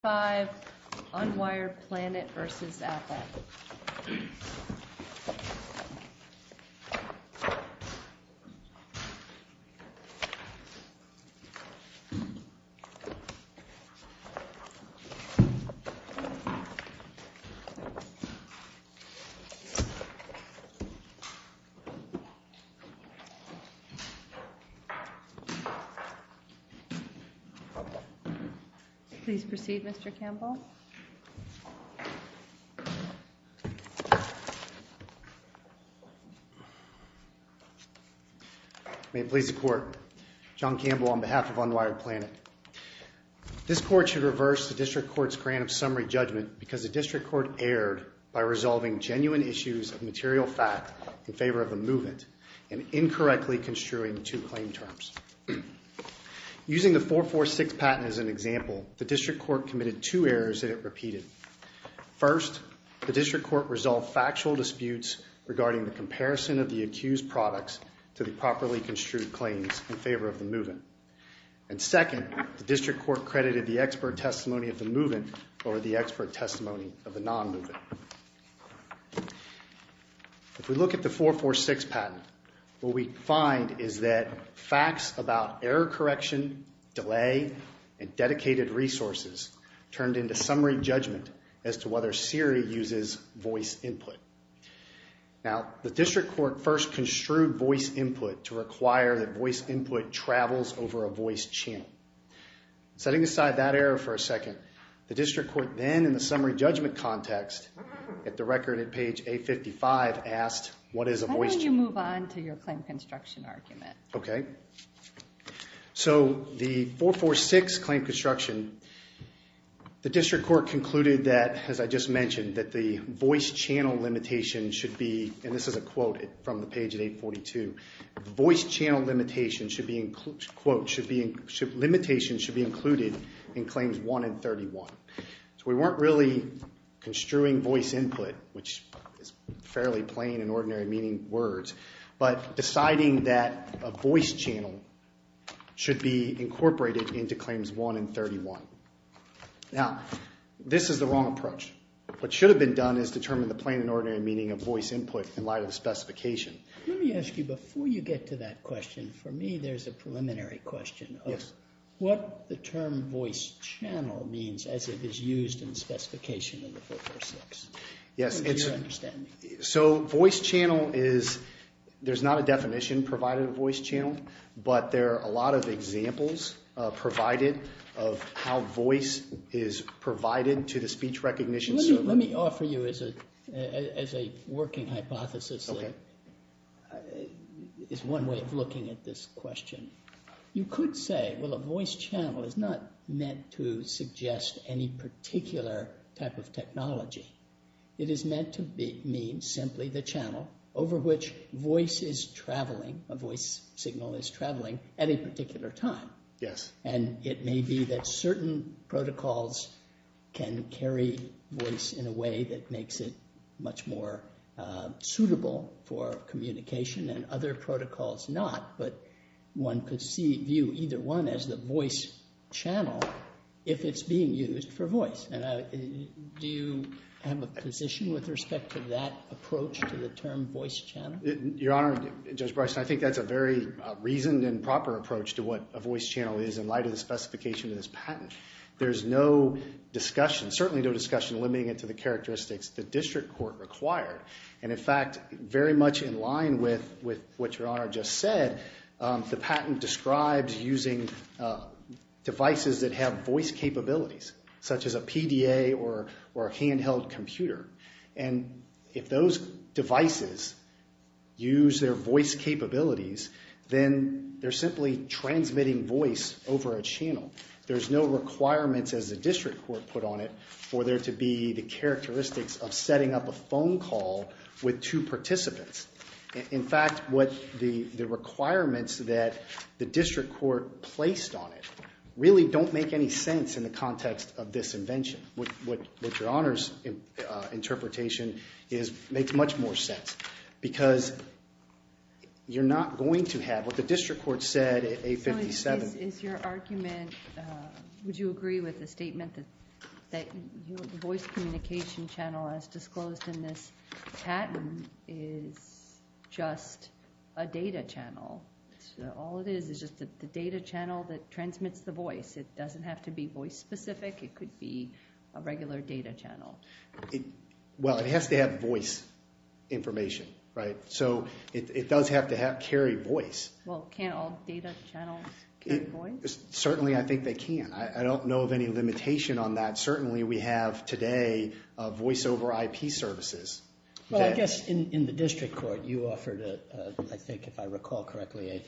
5, Unwired Planet v. Apple. Please proceed, Mr. Campbell. May it please the Court, John Campbell on behalf of Unwired Planet. This Court should reverse the District Court's grant of summary judgment because the District Court erred by resolving genuine issues of material fact in favor of the movement and incorrectly construing two claim terms. Using the 446 patent as an example, the District Court committed two errors that it repeated. First, the District Court resolved factual disputes regarding the comparison of the accused products to the properly construed claims in favor of the movement. And second, the District Court credited the expert testimony of the movement over the expert testimony of the non-movement. If we look at the 446 patent, what we find is that facts about error correction, delay, and dedicated resources turned into summary judgment as to whether Siri uses voice input. Now the District Court first construed voice input to require that voice input travels over a voice channel. Setting aside that error for a second, the District Court then in the summary judgment context at the record at page 855 asked, what is a voice channel? How about you move on to your claim construction argument? Okay. So the 446 claim construction, the District Court concluded that, as I just mentioned, that the voice channel limitation should be, and this is a quote from the page at 842, voice channel limitation should be, quote, should be, limitation should be included in claims 1 and 31. So we weren't really construing voice input, which is fairly plain and ordinary meaning words, but deciding that a voice channel should be incorporated into claims 1 and 31. Now this is the wrong approach. What should have been done is determine the plain and ordinary meaning of voice input in light of the specification. Let me ask you, before you get to that question, for me there's a preliminary question of what the term voice channel means as it is used in the specification of the 446, to your understanding. So voice channel is, there's not a definition provided of voice channel, but there are a lot of examples provided of how voice is provided to the speech recognition service. Let me offer you as a working hypothesis, as one way of looking at this question. You could say, well, a voice channel is not meant to suggest any particular type of technology. It is meant to mean simply the channel over which voice is traveling, a voice signal is traveling at a particular time. And it may be that certain protocols can carry voice in a way that makes it much more suitable for communication and other protocols not. But one could view either one as the voice channel if it's being used for voice. Do you have a position with respect to that approach to the term voice channel? Your Honor, Judge Bryson, I think that's a very reasoned and proper approach to what a voice channel is in light of the specification of this patent. There's no discussion, certainly no discussion, limiting it to the characteristics the district court required. And in fact, very much in line with what Your Honor just said, the patent describes using devices that have voice capabilities, such as a PDA or a handheld computer. And if those devices use their voice capabilities, then they're simply transmitting voice over a channel. There's no requirements as the district court put on it for there to be the characteristics of setting up a phone call with two participants. In fact, what the requirements that the district court placed on it really don't make any sense in the context of this invention. What Your Honor's interpretation is, makes much more sense. Because you're not going to have what the district court said at 857. Is your argument, would you agree with the statement that the voice communication channel as disclosed in this patent is just a data channel? All it is, is just the data channel that transmits the voice. It doesn't have to be voice specific, it could be a regular data channel. Well, it has to have voice information, right? So it does have to carry voice. Well, can't all data channels carry voice? Certainly, I think they can. I don't know of any limitation on that. Certainly, we have today a voice over IP services. Well, I guess in the district court, you offered, I think if I recall correctly,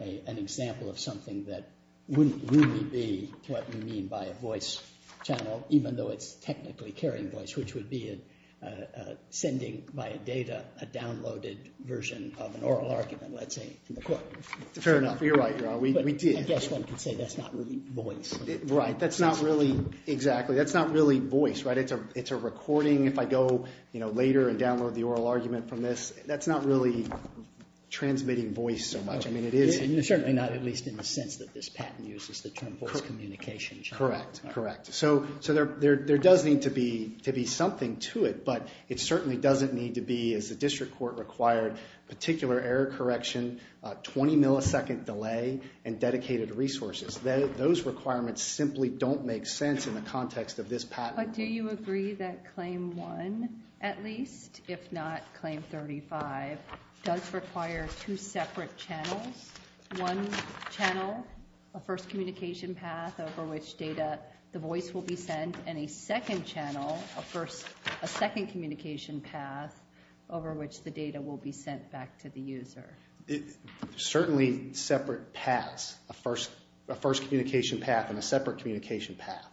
an example of something that wouldn't really be what you mean by a voice channel, even though it's technically carrying voice, which would be sending via data a downloaded version of an Fair enough, you're right, we did. I guess one could say that's not really voice. Right, that's not really, exactly, that's not really voice, right? It's a recording. If I go later and download the oral argument from this, that's not really transmitting voice so much. I mean, it is certainly not, at least in the sense that this patent uses the term voice communication channel. Correct, correct. So there does need to be something to it, but it certainly doesn't need to be, as the 20 millisecond delay and dedicated resources, those requirements simply don't make sense in the context of this patent. But do you agree that claim one, at least, if not claim 35, does require two separate channels, one channel, a first communication path over which data, the voice will be sent, and a second channel, a second communication path over which the data will be sent back to the user? Certainly separate paths, a first communication path and a separate communication path.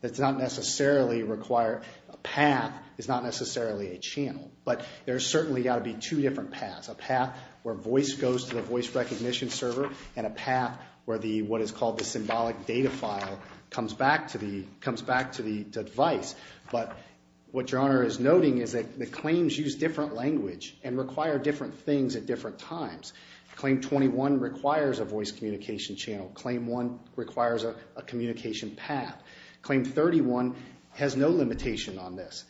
That's not necessarily require, a path is not necessarily a channel, but there's certainly got to be two different paths, a path where voice goes to the voice recognition server and a path where the, what is called the symbolic data file, comes back to the device. But what Your Honor is noting is that the claims use different language and require different things at different times. Claim 21 requires a voice communication channel. Claim one requires a communication path. Claim 31 has no limitation on this.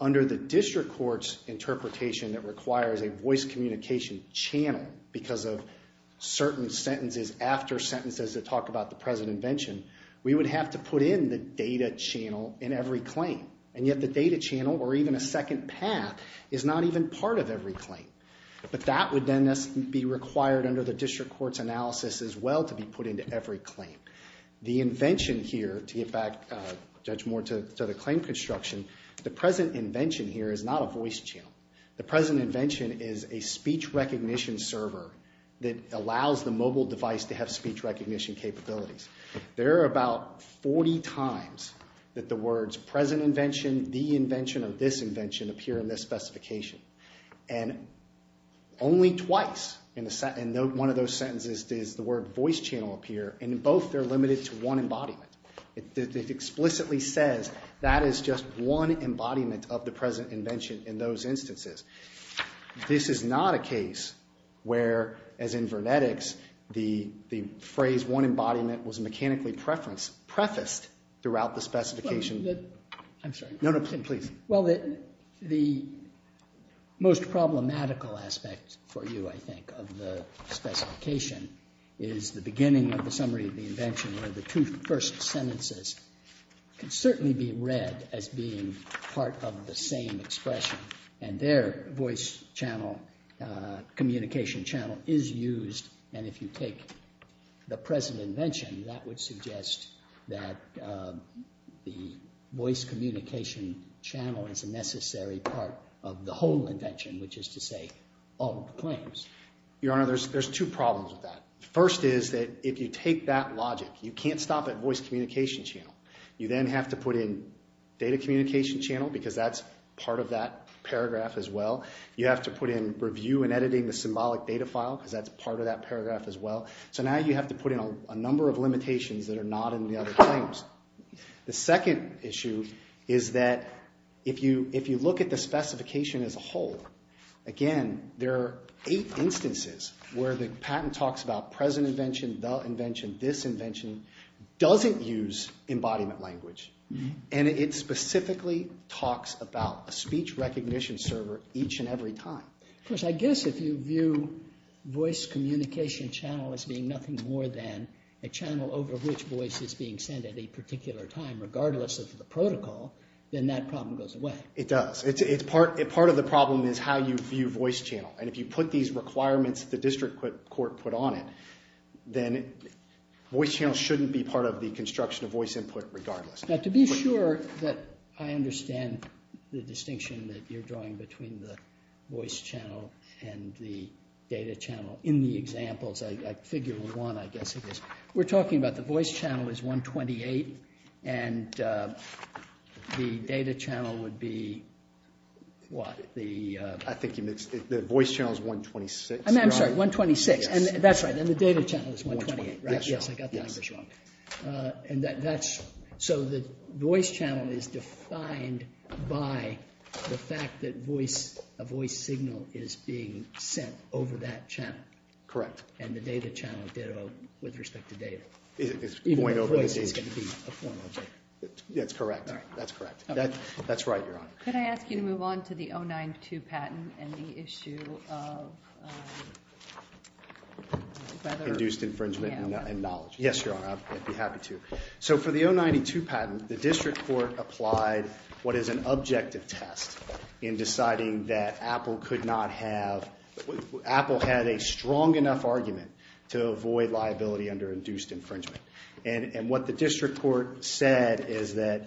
Under the district court's interpretation that requires a voice communication channel because of certain sentences after sentences that talk about the present invention, we would have to put in the data channel in every claim. And yet the data channel or even a second path is not even part of every claim. But that would then be required under the district court's analysis as well to be put into every claim. The invention here, to get back, Judge Moore, to the claim construction, the present invention here is not a voice channel. The present invention is a speech recognition server that allows the mobile device to have speech recognition capabilities. There are about 40 times that the words present invention, the invention of this invention appear in this specification. And only twice in one of those sentences does the word voice channel appear and in both they're limited to one embodiment. It explicitly says that is just one embodiment of the present invention in those instances. This is not a case where, as in vernetics, the phrase one embodiment was mechanically prefaced throughout the specification. I'm sorry. No, no, please. Well, the most problematical aspect for you, I think, of the specification is the beginning of the summary of the invention where the two first sentences can certainly be read as being part of the same expression. And their voice channel, communication channel, is used and if you take the present invention that would suggest that the voice communication channel is a necessary part of the whole invention, which is to say all of the claims. Your Honor, there's two problems with that. First is that if you take that logic, you can't stop at voice communication channel. You then have to put in data communication channel because that's part of that paragraph as well. You have to put in review and editing the symbolic data file because that's part of that paragraph as well. So now you have to put in a number of limitations that are not in the other claims. The second issue is that if you look at the specification as a whole, again, there are eight instances where the patent talks about present invention, the invention, this invention doesn't use embodiment language and it specifically talks about a speech recognition server each and every time. Of course, I guess if you view voice communication channel as being nothing more than a channel over which voice is being sent at a particular time regardless of the protocol, then that problem goes away. It does. Part of the problem is how you view voice channel and if you put these requirements that the district court put on it, then voice channel shouldn't be part of the construction of voice input regardless. Now, to be sure that I understand the distinction that you're drawing between the voice channel and the data channel in the examples, I figured one, I guess it is. We're talking about the voice channel is 128 and the data channel would be what? I think the voice channel is 126. I'm sorry, 126. That's right. And the data channel is 128, right? Yes. I got the numbers wrong. So the voice channel is defined by the fact that a voice signal is being sent over that channel. Correct. And the data channel, ditto, with respect to data. Even the voice is going to be a form of it. That's correct. That's correct. That's right, Your Honor. Thank you. Could I ask you to move on to the 092 patent and the issue of induced infringement and knowledge? Yes, Your Honor. I'd be happy to. So for the 092 patent, the district court applied what is an objective test in deciding that Apple could not have, Apple had a strong enough argument to avoid liability under induced infringement. And what the district court said is that,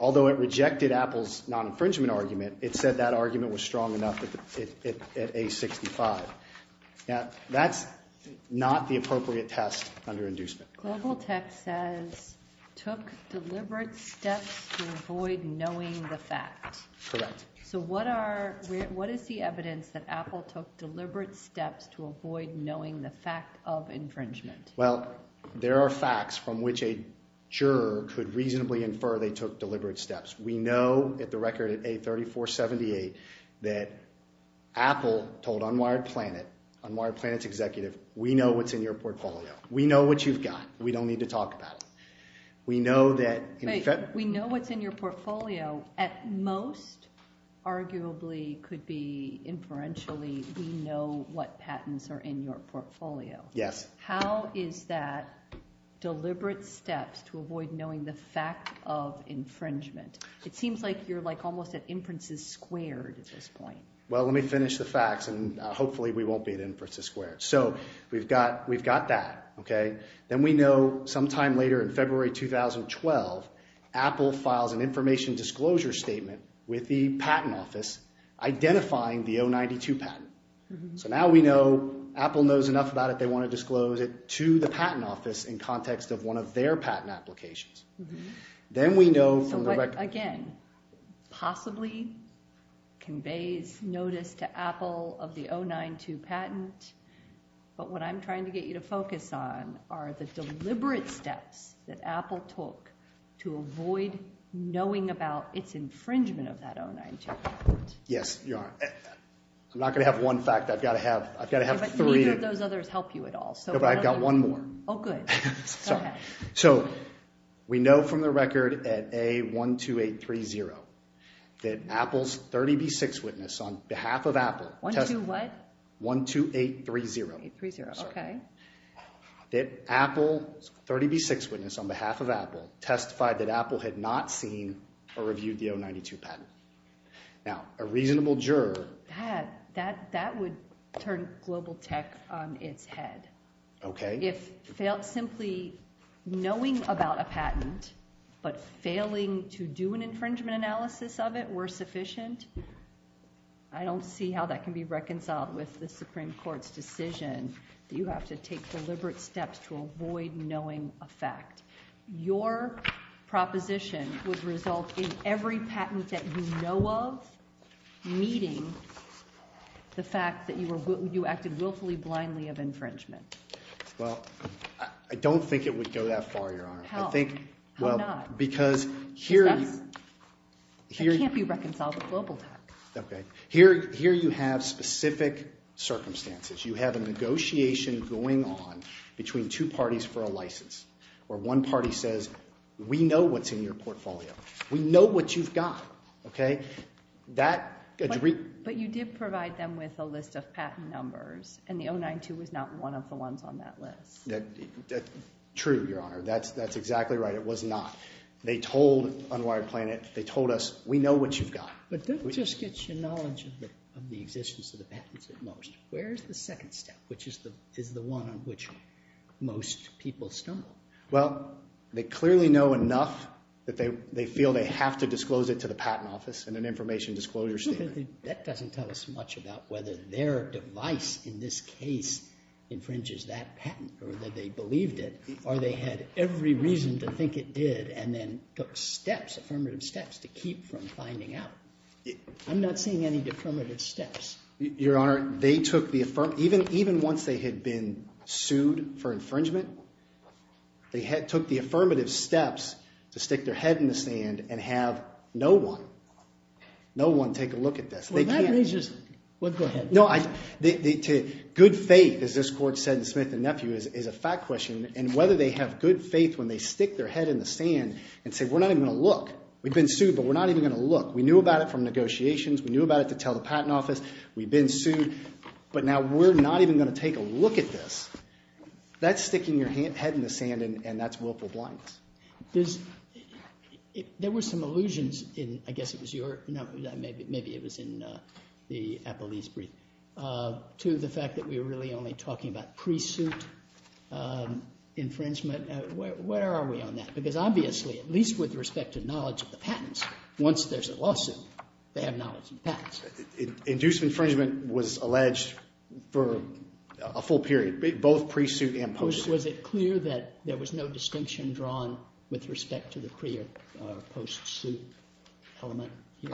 although it rejected Apple's non-infringement argument, it said that argument was strong enough at A65. That's not the appropriate test under inducement. Global Tech says, took deliberate steps to avoid knowing the fact. Correct. So what is the evidence that Apple took deliberate steps to avoid knowing the fact of infringement? Well, there are facts from which a juror could reasonably infer they took deliberate steps. We know, at the record at A3478, that Apple told Unwired Planet, Unwired Planet's executive, we know what's in your portfolio. We know what you've got. We don't need to talk about it. We know that- We know what's in your portfolio. At most, arguably, could be inferentially, we know what patents are in your portfolio. Yes. How is that deliberate steps to avoid knowing the fact of infringement? It seems like you're almost at inferences squared at this point. Well, let me finish the facts and hopefully we won't be at inferences squared. So we've got that, okay? Then we know sometime later in February 2012, Apple files an information disclosure statement with the patent office identifying the O92 patent. So now we know Apple knows enough about it, they want to disclose it to the patent office in context of one of their patent applications. Then we know from the record- So what, again, possibly conveys notice to Apple of the O92 patent, but what I'm trying to get you to focus on are the deliberate steps that Apple took to avoid knowing about its infringement of that O92 patent. Yes, you are. I'm not going to have one fact. I've got to have three. But neither of those others help you at all, so- No, but I've got one more. Oh, good. So we know from the record at A12830 that Apple's 30B6 witness on behalf of Apple- 1-2-what? 1-2-8-3-0. 1-2-8-3-0. Okay. That Apple's 30B6 witness on behalf of Apple testified that Apple had not seen or reviewed the O92 patent. Now, a reasonable juror- That would turn global tech on its head. Okay. If simply knowing about a patent but failing to do an infringement analysis of it were sufficient, I don't see how that can be reconciled with the Supreme Court's decision that you have to take deliberate steps to avoid knowing a fact. Your proposition would result in every patent that you know of meeting the fact that you acted willfully, blindly of infringement. Well, I don't think it would go that far, Your Honor. How? How not? Because here- Because that can't be reconciled with global tech. Okay. Here you have specific circumstances. You have a negotiation going on between two parties for a license where one party says, we know what's in your portfolio. We know what you've got. Okay? That- But you did provide them with a list of patent numbers and the O92 was not one of the ones on that list. True, Your Honor. That's exactly right. It was not. They told Unwired Planet, they told us, we know what you've got. But that just gets you knowledge of the existence of the patents at most. Where's the second step, which is the one on which most people stumble? Well, they clearly know enough that they feel they have to disclose it to the patent office in an information disclosure statement. That doesn't tell us much about whether their device in this case infringes that patent or that they believed it or they had every reason to think it did and then took steps, affirmative steps, to keep from finding out. I'm not seeing any affirmative steps. Your Honor, they took the affirmative, even once they had been sued for infringement, they took the affirmative steps to stick their head in the sand and have no one, no one take a look at this. They can't. Go ahead. Good faith, as this court said in Smith and Nephew, is a fact question. And whether they have good faith when they stick their head in the sand and say, we're not even going to look. We've been sued, but we're not even going to look. We knew about it from negotiations. We knew about it to tell the patent office. We've been sued. But now we're not even going to take a look at this. That's sticking your head in the sand, and that's willful blindness. There were some allusions in, I guess it was your, maybe it was in the Applebee's brief, to the fact that we were really only talking about pre-suit infringement. Where are we on that? Because obviously, at least with respect to knowledge of the patents, once there's a lawsuit, they have knowledge of the patents. Induced infringement was alleged for a full period, both pre-suit and post-suit. Was it clear that there was no distinction drawn with respect to the pre- or post-suit element here?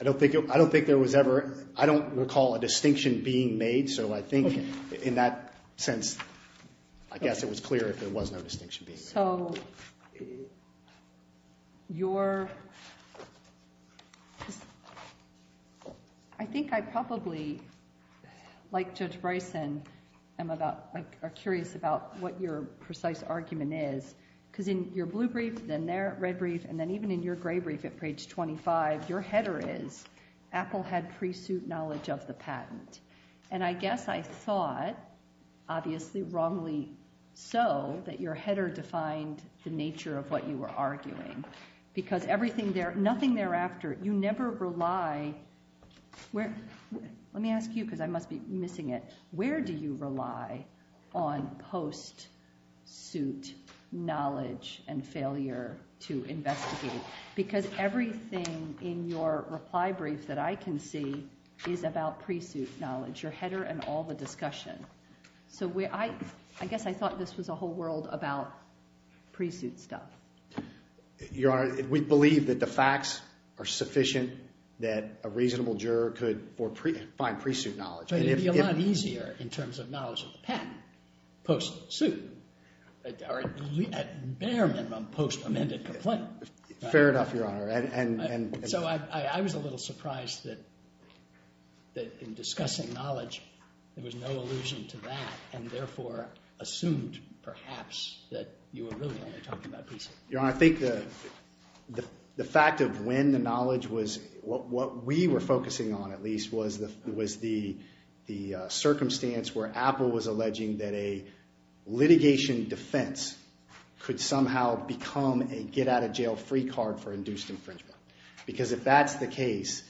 I don't think there was ever. I don't recall a distinction being made, so I think in that sense, I guess it was clear there was no distinction being made. So your... I think I probably, like Judge Bryson, am about, are curious about what your precise argument is. Because in your blue brief, then their red brief, and then even in your gray brief at page 25, your header is, Apple had pre-suit knowledge of the patent. And I guess I thought, obviously wrongly so, that your header defined the nature of what you were arguing. Because everything there, nothing thereafter, you never rely... Let me ask you, because I must be missing it. Where do you rely on post-suit knowledge and failure to investigate? Because everything in your reply brief that I can see is about pre-suit knowledge, your header and all the discussion. So I guess I thought this was a whole world about pre-suit stuff. Your Honor, we believe that the facts are sufficient that a reasonable juror could find pre-suit knowledge. It would be a lot easier in terms of knowledge of the patent post-suit. At bare minimum, post-amended complaint. Fair enough, Your Honor. So I was a little surprised that in discussing knowledge, there was no allusion to that, and therefore assumed, perhaps, that you were really only talking about pre-suit. Your Honor, I think the fact of when the knowledge was... What we were focusing on, at least, was the circumstance where Apple was alleging that a litigation defense could somehow become a get-out-of-jail-free card for induced infringement. Because if that's the case,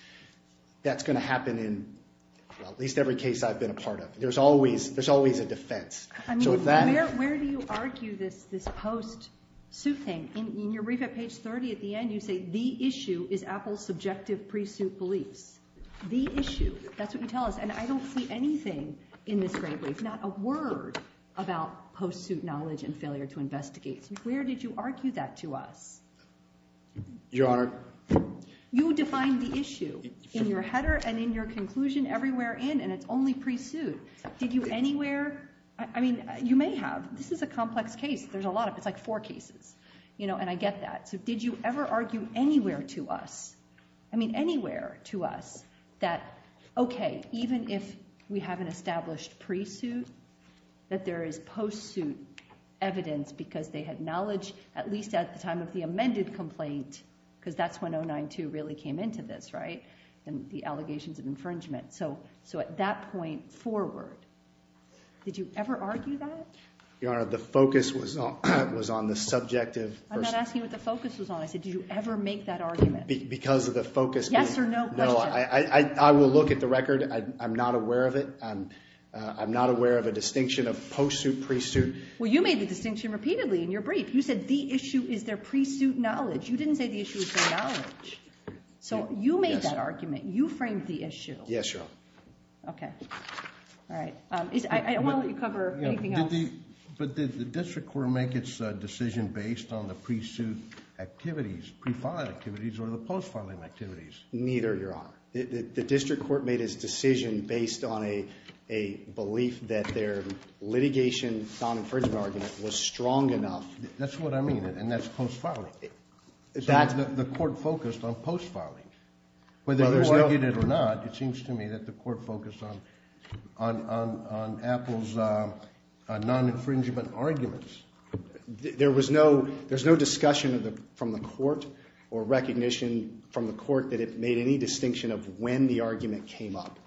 that's going to happen in at least every case I've been a part of. There's always a defense. Where do you argue this post-suit thing? In your brief at page 30, at the end, you say, the issue is Apple's subjective pre-suit beliefs. The issue. That's what you tell us. And I don't see anything in this great brief, not a word about post-suit knowledge and failure to investigate. Where did you argue that to us? Your Honor... You defined the issue in your header and in your conclusion, everywhere in, and it's only pre-suit. Did you anywhere... I mean, you may have. This is a complex case. There's a lot of it. It's like four cases. And I get that. So did you ever argue anywhere to us, I mean, anywhere to us, that, OK, even if we have an established pre-suit, that there is post-suit evidence, because they had knowledge, at least at the time of the amended complaint, because that's when 09-2 really came into this, right? And the allegations of infringement. So at that point forward, did you ever argue that? Your Honor, the focus was on the subjective... I'm not asking what the focus was on. I said, did you ever make that argument? Because of the focus... Yes or no question. No, I will look at the record. I'm not aware of it. I'm not aware of a distinction of post-suit, pre-suit. Well, you made the distinction repeatedly in your brief. You said the issue is their pre-suit knowledge. You didn't say the issue is their knowledge. So you made that argument. You framed the issue. Yes, Your Honor. OK. All right. I don't want to let you cover anything else. But did the district court make its decision based on the pre-suit activities, pre-file activities, or the post-filing activities? Neither, Your Honor. The district court made its decision based on a belief that their litigation non-infringement argument was strong enough... That's what I mean, and that's post-filing. The court focused on post-filing. Whether you argued it or not, it seems to me that the court focused on Apple's non-infringement arguments. There was no discussion from the court or recognition from the court that it made any distinction of when the argument came up.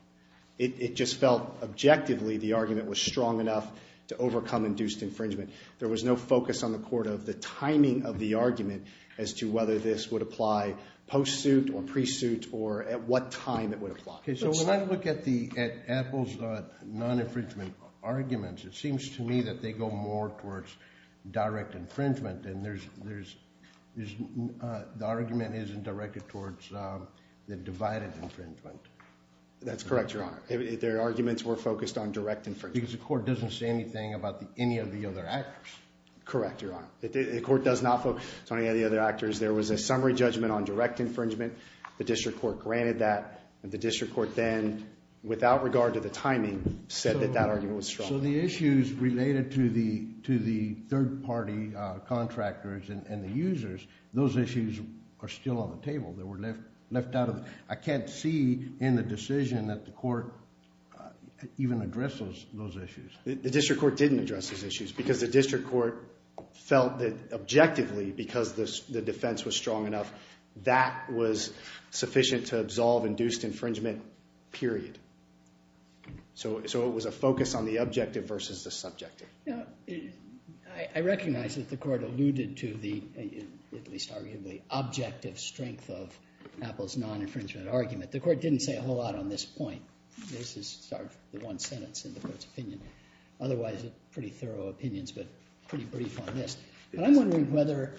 It just felt objectively the argument was strong enough to overcome induced infringement. There was no focus on the court of the timing of the argument as to whether this would apply post-suit or pre-suit or at what time it would apply. So when I look at Apple's non-infringement arguments, it seems to me that they go more towards direct infringement and the argument isn't directed towards the divided infringement. That's correct, Your Honor. Their arguments were focused on direct infringement. Because the court doesn't say anything about any of the other actors. Correct, Your Honor. The court does not focus on any of the other actors. There was a summary judgment on direct infringement. The district court granted that. The district court then, without regard to the timing, said that that argument was strong. So the issues related to the third-party contractors and the users, those issues are still on the table. They were left out of it. I can't see in the decision that the court even addresses those issues. The district court didn't address those issues because the district court felt that objectively, because the defense was strong enough, that was sufficient to absolve induced infringement, period. So it was a focus on the objective versus the subjective. I recognize that the court alluded to the, at least arguably, objective strength of Apple's non-infringement argument. The court didn't say a whole lot on this point. This is the one sentence in the court's opinion. Otherwise, pretty thorough opinions, but pretty brief on this. But I'm wondering whether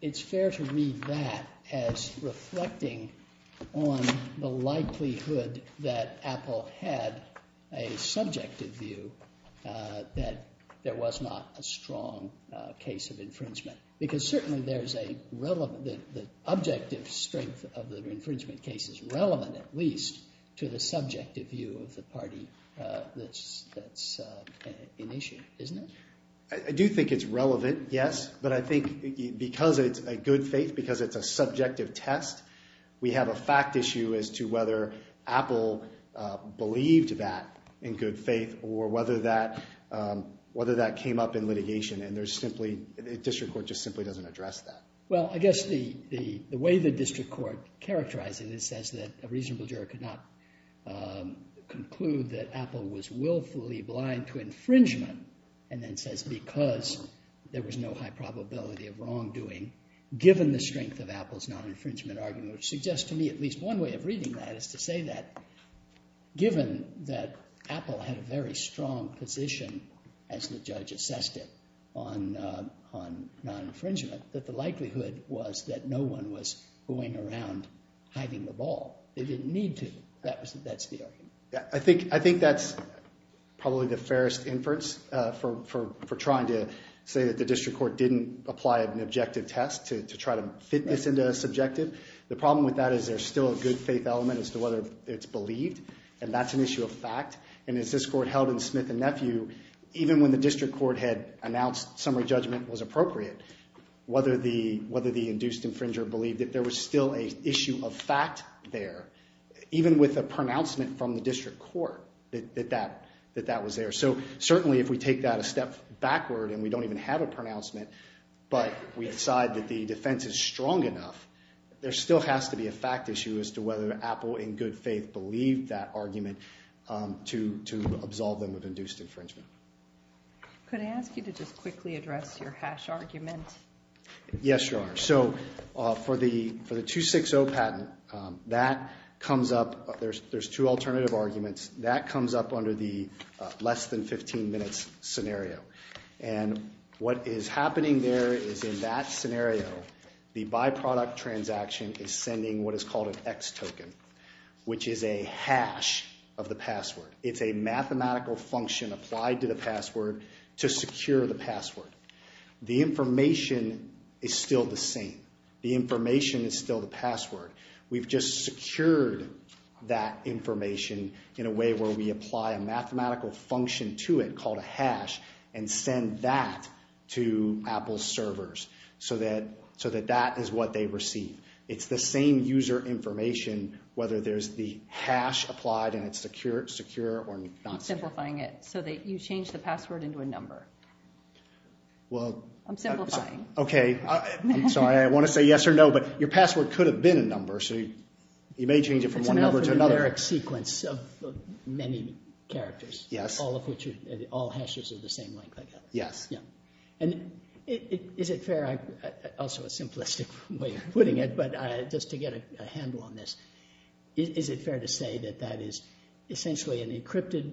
it's fair to read that as reflecting on the likelihood that Apple had a subjective view that there was not a strong case of infringement. Because certainly there's a relevant, the objective strength of the infringement case is relevant, at least, to the subjective view of the party that's in issue, isn't it? I do think it's relevant, yes, but I think because it's a good faith, because it's a subjective test, we have a fact issue as to whether Apple believed that in good faith or whether that came up in litigation, and the district court just simply doesn't address that. Well, I guess the way the district court characterized it, it says that a reasonable juror could not conclude that Apple was willfully blind to infringement, and then says because there was no high probability of wrongdoing given the strength of Apple's non-infringement argument, which suggests to me at least one way of reading that is to say that given that Apple had a very strong position, as the judge assessed it, on non-infringement, that the likelihood was that no one was going around hiding the ball. They didn't need to. That's the argument. I think that's probably the fairest inference for trying to say that the district court didn't apply an objective test to try to fit this into a subjective. The problem with that is there's still a good faith element as to whether it's believed, and that's an issue of fact, and as this court held in Smith and Nephew, even when the district court had announced summary judgment was appropriate, whether the induced infringer believed it, there was still an issue of fact there, even with a pronouncement from the district court that that was there. So certainly if we take that a step backward and we don't even have a pronouncement, but we decide that the defense is strong enough, there still has to be a fact issue as to whether Apple, in good faith, believed that argument to absolve them of induced infringement. Could I ask you to just quickly address your hash argument? Yes, Your Honor. So for the 260 patent, that comes up. There's two alternative arguments. That comes up under the less than 15 minutes scenario, and what is happening there is in that scenario, the byproduct transaction is sending what is called an X token, which is a hash of the password. It's a mathematical function applied to the password to secure the password. The information is still the same. The information is still the password. We've just secured that information in a way where we apply a mathematical function to it called a hash and send that to Apple's servers so that that is what they receive. It's the same user information, whether there's the hash applied and it's secure or not secure. I'm simplifying it so that you change the password into a number. I'm simplifying. Okay. I'm sorry. I want to say yes or no, but your password could have been a number, so you may change it from one number to another. It's an alphanumeric sequence of many characters, all hashes of the same length, I guess. Yes. Is it fair, also a simplistic way of putting it, but just to get a handle on this, is it fair to say that that is essentially an encrypted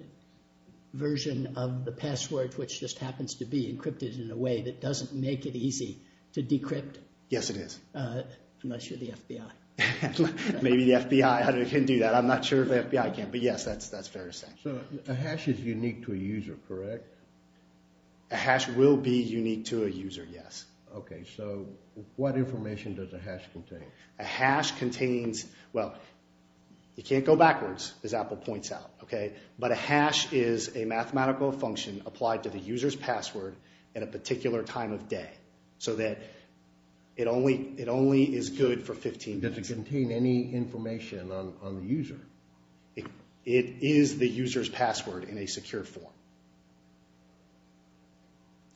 version of the password which just happens to be encrypted in a way that doesn't make it easy to decrypt? Yes, it is. I'm not sure the FBI. Maybe the FBI can do that. I'm not sure if the FBI can, but yes, that's fair to say. So a hash is unique to a user, correct? A hash will be unique to a user, yes. Okay. So what information does a hash contain? A hash contains, well, it can't go backwards, as Apple points out. But a hash is a mathematical function applied to the user's password at a particular time of day so that it only is good for 15 days. Does it contain any information on the user? It is the user's password in a secure form.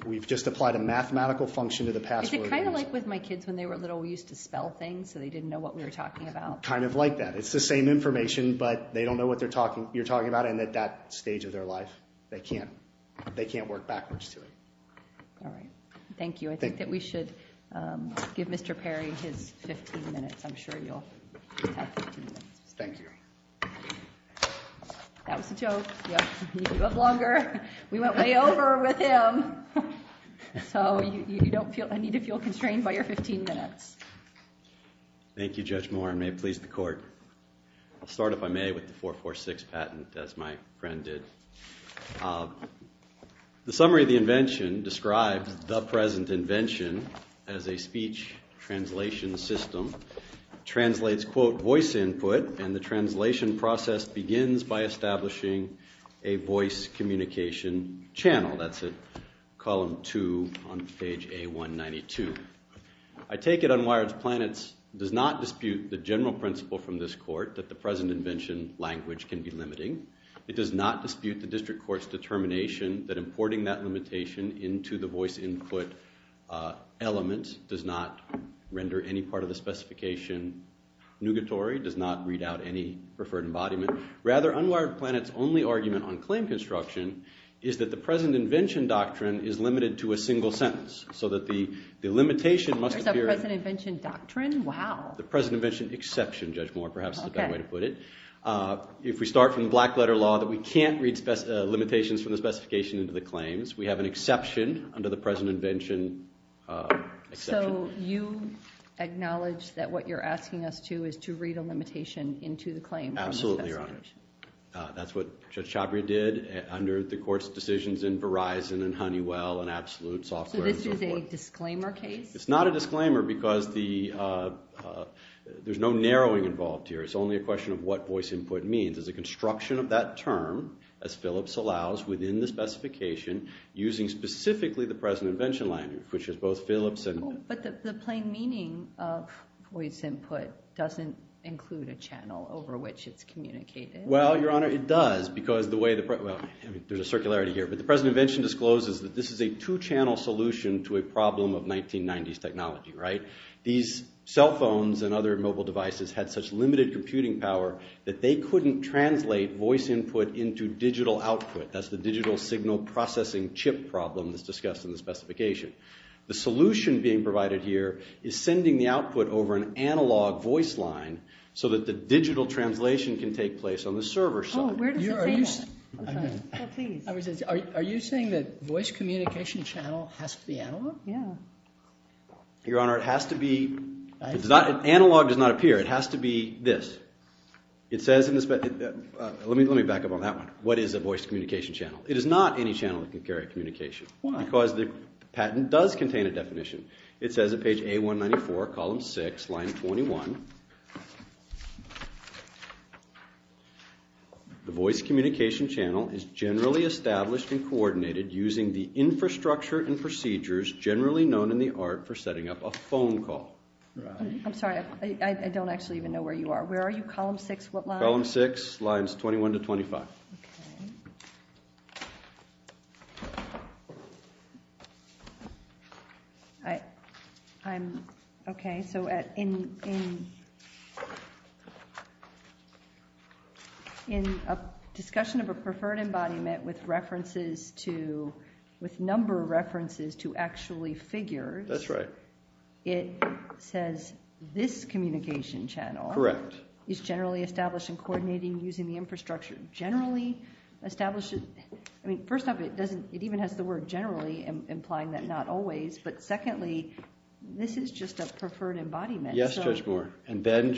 We've just applied a mathematical function to the password. Is it kind of like with my kids when they were little, we used to spell things so they didn't know what we were talking about? Kind of like that. It's the same information, but they don't know what you're talking about and at that stage of their life they can't work backwards to it. All right. Thank you. I think that we should give Mr. Perry his 15 minutes. I'm sure you'll have 15 minutes. Thank you. That was a joke. You have longer. We went way over with him. So you don't need to feel constrained by your 15 minutes. Thank you, Judge Moore. And may it please the Court. I'll start, if I may, with the 446 patent, as my friend did. The summary of the invention describes the present invention as a speech translation system. It translates, quote, voice input, and the translation process begins by establishing a voice communication channel. That's at column 2 on page A192. I take it Unwired Planets does not dispute the general principle from this court that the present invention language can be limiting. It does not dispute the district court's determination that importing that limitation into the voice input element does not render any part of the specification nugatory, does not read out any preferred embodiment. Rather, Unwired Planets' only argument on claim construction is that the present invention doctrine is limited to a single sentence so that the limitation must appear... There's a present invention doctrine? Wow. The present invention exception, Judge Moore, perhaps is a better way to put it. If we start from the Blackletter Law, that we can't read limitations from the specification into the claims. We have an exception under the present invention exception. So you acknowledge that what you're asking us to is to read a limitation into the claim. Absolutely, Your Honor. That's what Judge Chhabria did under the court's decisions in Verizon and Honeywell and Absolute Software and so forth. So this is a disclaimer case? It's not a disclaimer because there's no narrowing involved here. It's only a question of what voice input means. It's a construction of that term, as Phillips allows, within the specification using specifically the present invention language, which is both Phillips and... But the plain meaning of voice input doesn't include a channel over which it's communicated. Well, Your Honor, it does because the way the... Well, there's a circularity here, but the present invention discloses that this is a two-channel solution to a problem of 1990s technology, right? These cell phones and other mobile devices had such limited computing power that they couldn't translate voice input into digital output. That's the digital signal processing chip problem that's discussed in the specification. The solution being provided here is sending the output over an analog voice line so that the digital translation can take place on the server side. Where does it say that? Are you saying that voice communication channel has to be analog? Yeah. Your Honor, it has to be... Analog does not appear. It has to be this. It says in the spec... Let me back up on that one. What is a voice communication channel? It is not any channel that can carry communication. Why? Because the patent does contain a definition. It says at page A194, column 6, line 21... The voice communication channel is generally established and coordinated using the infrastructure and procedures generally known in the art for setting up a phone call. I'm sorry. I don't actually even know where you are. Where are you? Column 6, what line? Column 6, lines 21 to 25. Okay. I... I'm... Okay, so in... In... In a discussion of a preferred embodiment with references to... With number of references to actually figures... That's right. It says this communication channel... Correct. Is generally established and coordinating using the infrastructure. Generally established... I mean, first off, it doesn't... It even has the word generally implying that not always. But secondly, this is just a preferred embodiment. Yes, Judge Moore. And then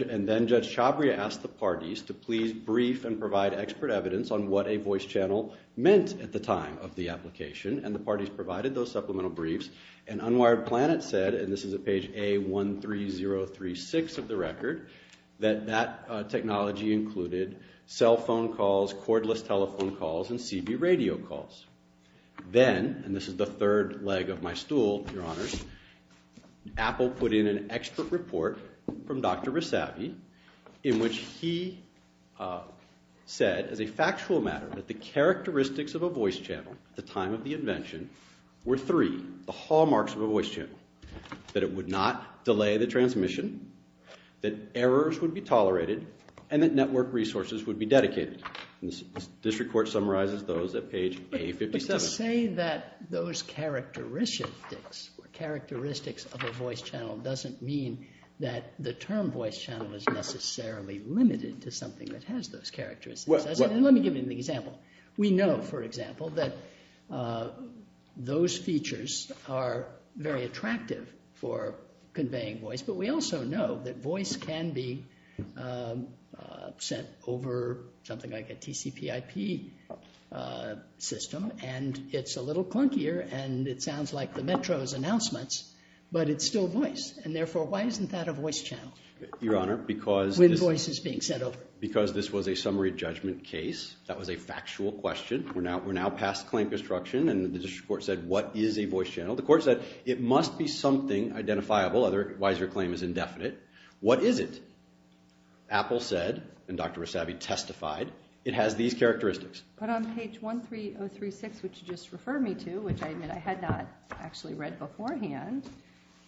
Judge Chabria asked the parties to please brief and provide expert evidence on what a voice channel meant at the time of the application. And the parties provided those supplemental briefs. And Unwired Planet said, and this is at page A13036 of the record, that that technology included cell phone calls, cordless telephone calls, and CB radio calls. Then, and this is the third leg of my stool, Your Honors, Apple put in an expert report from Dr. Rissavi in which he said, as a factual matter, that the characteristics of a voice channel at the time of the invention were three, the hallmarks of a voice channel, that it would not delay the transmission, that errors would be tolerated, and that network resources would be dedicated. And this report summarizes those at page A57. To say that those characteristics of a voice channel doesn't mean that the term voice channel is necessarily limited to something that has those characteristics. And let me give you an example. We know, for example, that those features are very attractive for conveying voice, but we also know that voice can be sent over something like a TCPIP system and it's a little clunkier and it sounds like the Metro's announcements, but it's still voice. And therefore, why isn't that a voice channel? Your Honor, because... When voice is being sent over. Because this was a summary judgment case. That was a factual question. We're now past claim construction and the district court said, what is a voice channel? The court said, it must be something identifiable, otherwise your claim is indefinite. What is it? Apple said, and Dr. Rissavi testified, it has these characteristics. But on page 13036, which you just referred me to, which I admit I had not actually read beforehand,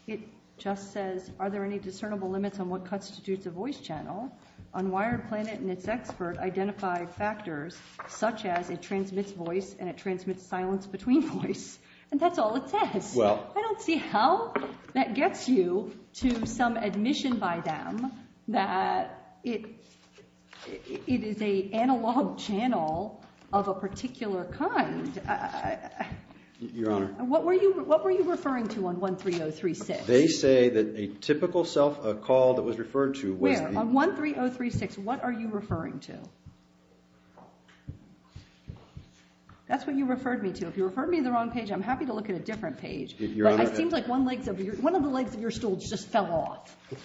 it just says, are there any discernible limits on what constitutes a voice channel? Unwired Planet and its expert identified factors such as it transmits voice and it transmits silence between voice. And that's all it says. I don't see how that gets you to some admission by them that it is an analog channel of a particular kind. Your Honor. What were you referring to on 13036? They say that a typical call that was referred to was... On 13036, what are you referring to? That's what you referred me to. If you referred me to the wrong page, I'm happy to look at a different page. But it seems like one of the legs of your stool just fell off. Thank you.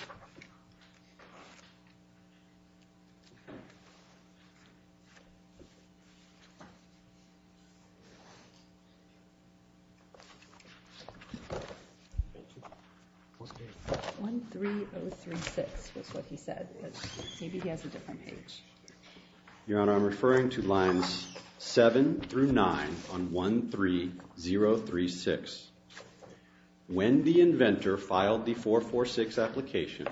13036 was what he said. Maybe he has a different page. Your Honor, I'm referring to lines 7 through 9 on 13036. When the inventor filed the 446 application,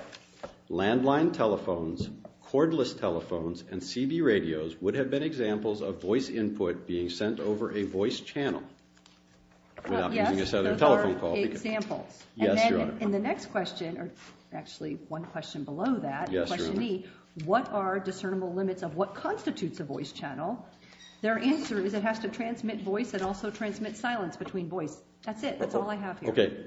landline telephones, cordless telephones, and CB radios would have been examples of voice input being sent over a voice channel. Yes, those are examples. Yes, Your Honor. And then in the next question, or actually one question below that, question E, what are discernible limits of what constitutes a voice channel? Their answer is it has to transmit voice and also transmit silence between voice. That's it. That's all I have here. Okay.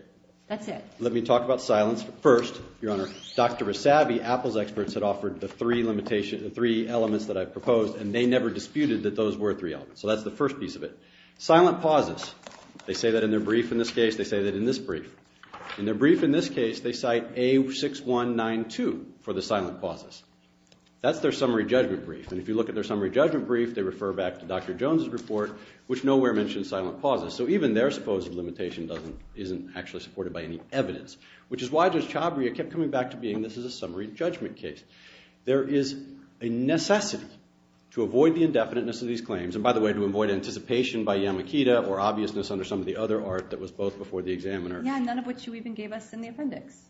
That's it. Let me talk about silence first, Your Honor. Dr. Rosavi, Apple's experts, had offered the three elements that I've proposed, and they never disputed that those were three elements. So that's the first piece of it. Silent pauses. They say that in their brief in this case. They say that in this brief. In their brief in this case, they cite A6192 for the silent pauses. That's their summary judgment brief. And if you look at their summary judgment brief, they refer back to Dr. Jones' report, which nowhere mentions silent pauses. So even their supposed limitation isn't actually supported by any evidence. Which is why Judge Chabria kept coming back to being this is a summary judgment case. There is a necessity to avoid the indefiniteness of these claims. And by the way, to avoid anticipation by Yamakita or obviousness under some of the other art that was both before the examiner. Yeah, none of which you even gave us in the appendix.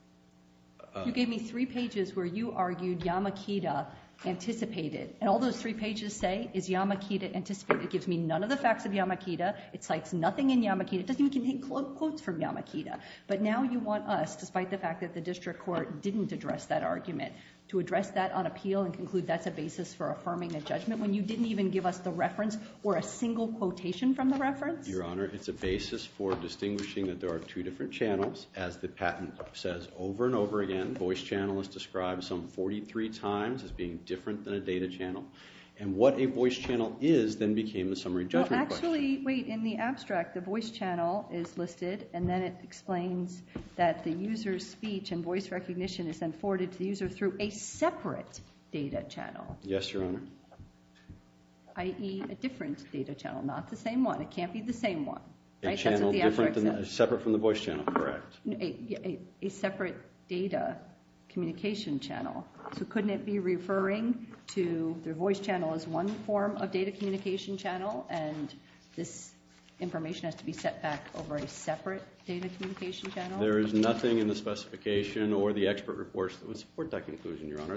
You gave me three pages where you argued Yamakita anticipated. And all those three pages say is Yamakita anticipated. It gives me none of the facts of Yamakita. It cites nothing in Yamakita. It doesn't even contain quotes from Yamakita. But now you want us, despite the fact that the district court didn't address that argument, to address that on appeal and conclude that's a basis for affirming a judgment when you didn't even give us the reference or a single quotation from the reference? Your Honor, it's a basis for distinguishing that there are two different channels. As the patent says over and over again, voice channel is described some 43 times as being different than a data channel. And what a voice channel is then became the summary judgment question. Actually, wait. In the abstract, the voice channel is listed. And then it explains that the user's speech and voice recognition is then forwarded to the user through a separate data channel. Yes, Your Honor. I.e., a different data channel, not the same one. It can't be the same one. A channel separate from the voice channel, correct. A separate data communication channel. So couldn't it be referring to the voice channel as one form of data communication channel and this information has to be set back over a separate data communication channel? There is nothing in the specification or the expert reports that would support that conclusion, Your Honor.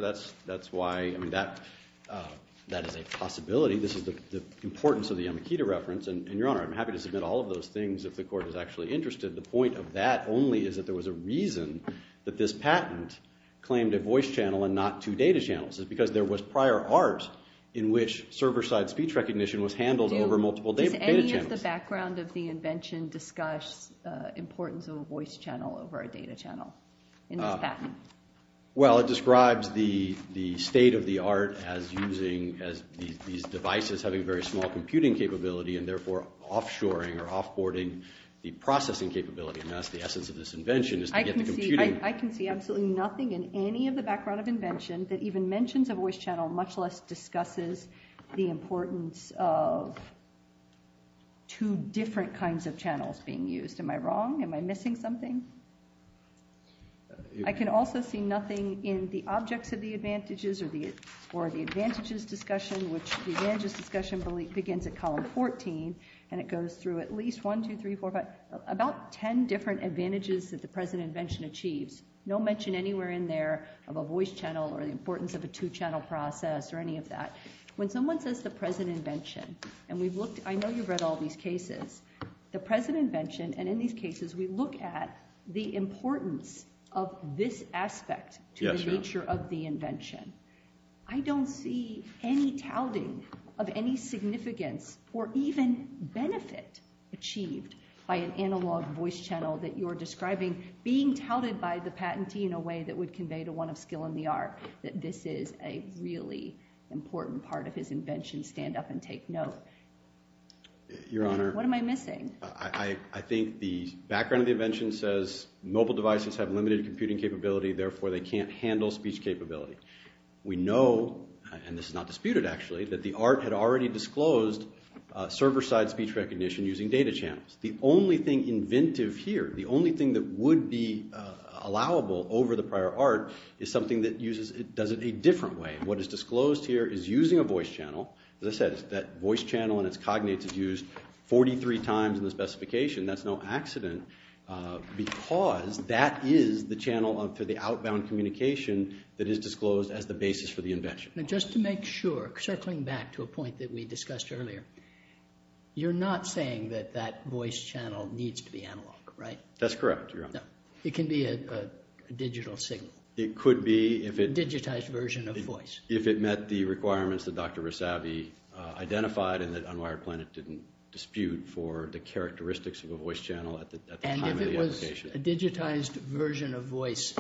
That is a possibility. This is the importance of the Yamakita reference. And Your Honor, I'm happy to submit all of those things if the Court is actually interested. The point of that only is that there was a reason that this patent claimed a voice channel and not two data channels. It's because there was prior art in which server-side speech recognition was handled over multiple data channels. Does any of the background of the invention discuss importance of a voice channel over a data channel in this patent? Well, it describes the state of the art as using these devices, having very small computing capability and therefore offshoring or offboarding the processing capability. I can see absolutely nothing in any of the background of invention that even mentions a voice channel much less discusses the importance of two different kinds of channels being used. Am I wrong? Am I missing something? I can also see nothing in the objects of the advantages or the advantages discussion, which the advantages discussion begins at column 14 and it goes through at least 1, 2, 3, 4, 5, about 10 different advantages that the present invention achieves. No mention anywhere in there of a voice channel or the importance of a two-channel process or any of that. When someone says the present invention, and I know you've read all these cases, the present invention, and in these cases we look at the importance of this aspect to the nature of the invention, I don't see any touting of any significance or even benefit achieved by an analog voice channel that you're describing being touted by the patentee in a way that would convey to one of skill in the art that this is a really important part of his invention, stand up and take note. What am I missing? I think the background of the invention says mobile devices have limited computing capability, therefore they can't handle speech capability. We know, and this is not disputed actually, that the art had already disclosed server-side speech recognition using data channels. The only thing inventive here, the only thing that would be allowable over the prior art is something that does it a different way. What is disclosed here is using a voice channel. As I said, that voice channel and its cognates is used 43 times in the specification. That's no accident because that is the channel for the outbound communication that is disclosed as the basis for the invention. Just to make sure, circling back to a point that we discussed earlier, you're not saying that that voice channel needs to be analog, right? That's correct, Your Honor. It can be a digital signal. A digitized version of voice. If it met the requirements that Dr. Rasavi identified and that Unwired Planet didn't dispute for the characteristics of a voice channel at the time of the application. And if it was a digitized version of voice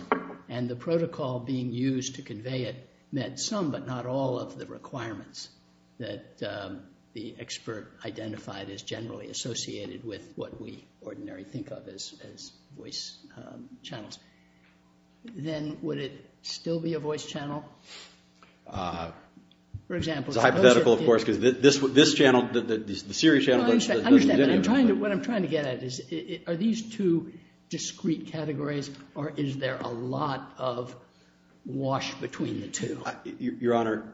and the protocol being used to convey it met some but not all of the requirements that the expert identified as generally associated with what we ordinarily think of as voice channels. Then would it still be a voice channel? For example... It's hypothetical, of course, because this channel, the Siri channel... What I'm trying to get at is are these two discrete categories or is there a lot of wash between the two? Your Honor,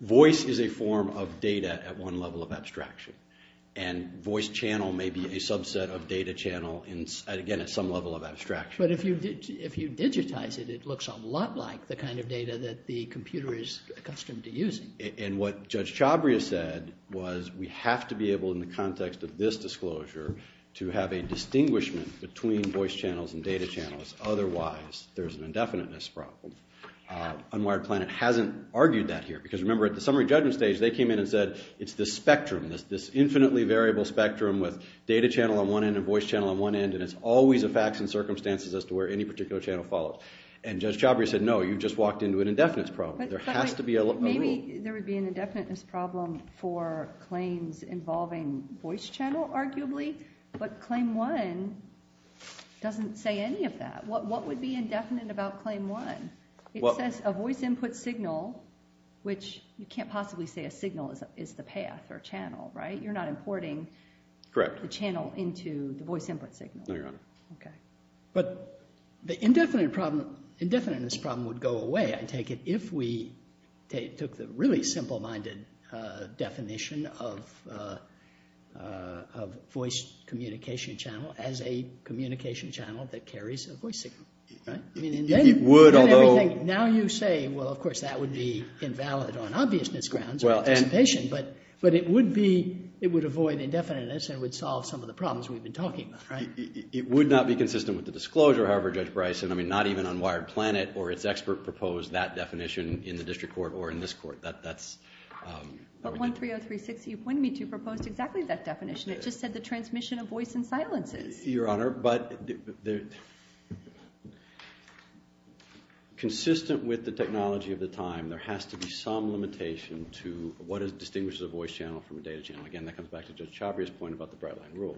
voice is a form of data at one level of abstraction and voice channel may be a subset of data channel, again, at some level of abstraction. But if you digitize it, it looks a lot like the kind of data that the computer is accustomed to using. And what Judge Chabria said was we have to be able in the context of this disclosure to have a distinguishment between voice channels and data channels otherwise there's an indefiniteness problem. Unwired Planet hasn't argued that here because remember at the summary judgment stage they came in and said it's the spectrum, this infinitely variable spectrum with data channel on one end and voice channel on one end and it's always a facts and circumstances as to where any particular channel follows. And Judge Chabria said no, you just walked into an indefiniteness problem. There has to be a rule. Maybe there would be an indefiniteness problem for claims involving voice channel, arguably, but Claim 1 doesn't say any of that. What would be indefinite about Claim 1? It says a voice input signal which you can't possibly say a signal is the path or channel, right? You're not importing the channel into the voice input signal. No, Your Honor. But the indefiniteness problem would go away, I take it, if we took the really simple-minded definition of voice communication channel as a communication channel that carries a voice signal. It would, although... be invalid on obviousness grounds or anticipation, but it would be... it would avoid indefiniteness and would solve some of the problems we've been talking about, right? It would not be consistent with the disclosure, however, Judge Bryson. I mean, not even Unwired Planet or its expert proposed that definition in the district court or in this court. That's... But 13036, you pointed me to, proposed exactly that definition. It just said the transmission of voice in silences. Your Honor, but... With the technology of the time, there has to be some limitation to what distinguishes a voice channel from a data channel. Again, that comes back to Judge Chabria's point about the Bright Line Rule.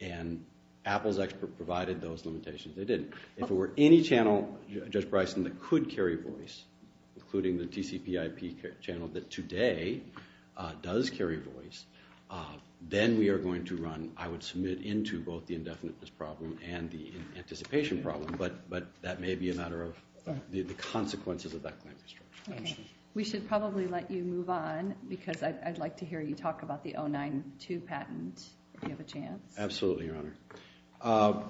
And Apple's expert provided those limitations. They didn't. If it were any channel, Judge Bryson, that could carry voice, including the TCPIP channel that today does carry voice, then we are going to run... I would submit into both the indefiniteness problem and the anticipation problem, but that may be a matter of the consequences of that claim. We should probably let you move on, because I'd like to hear you talk about the 092 patent, if you have a chance. Absolutely, Your Honor.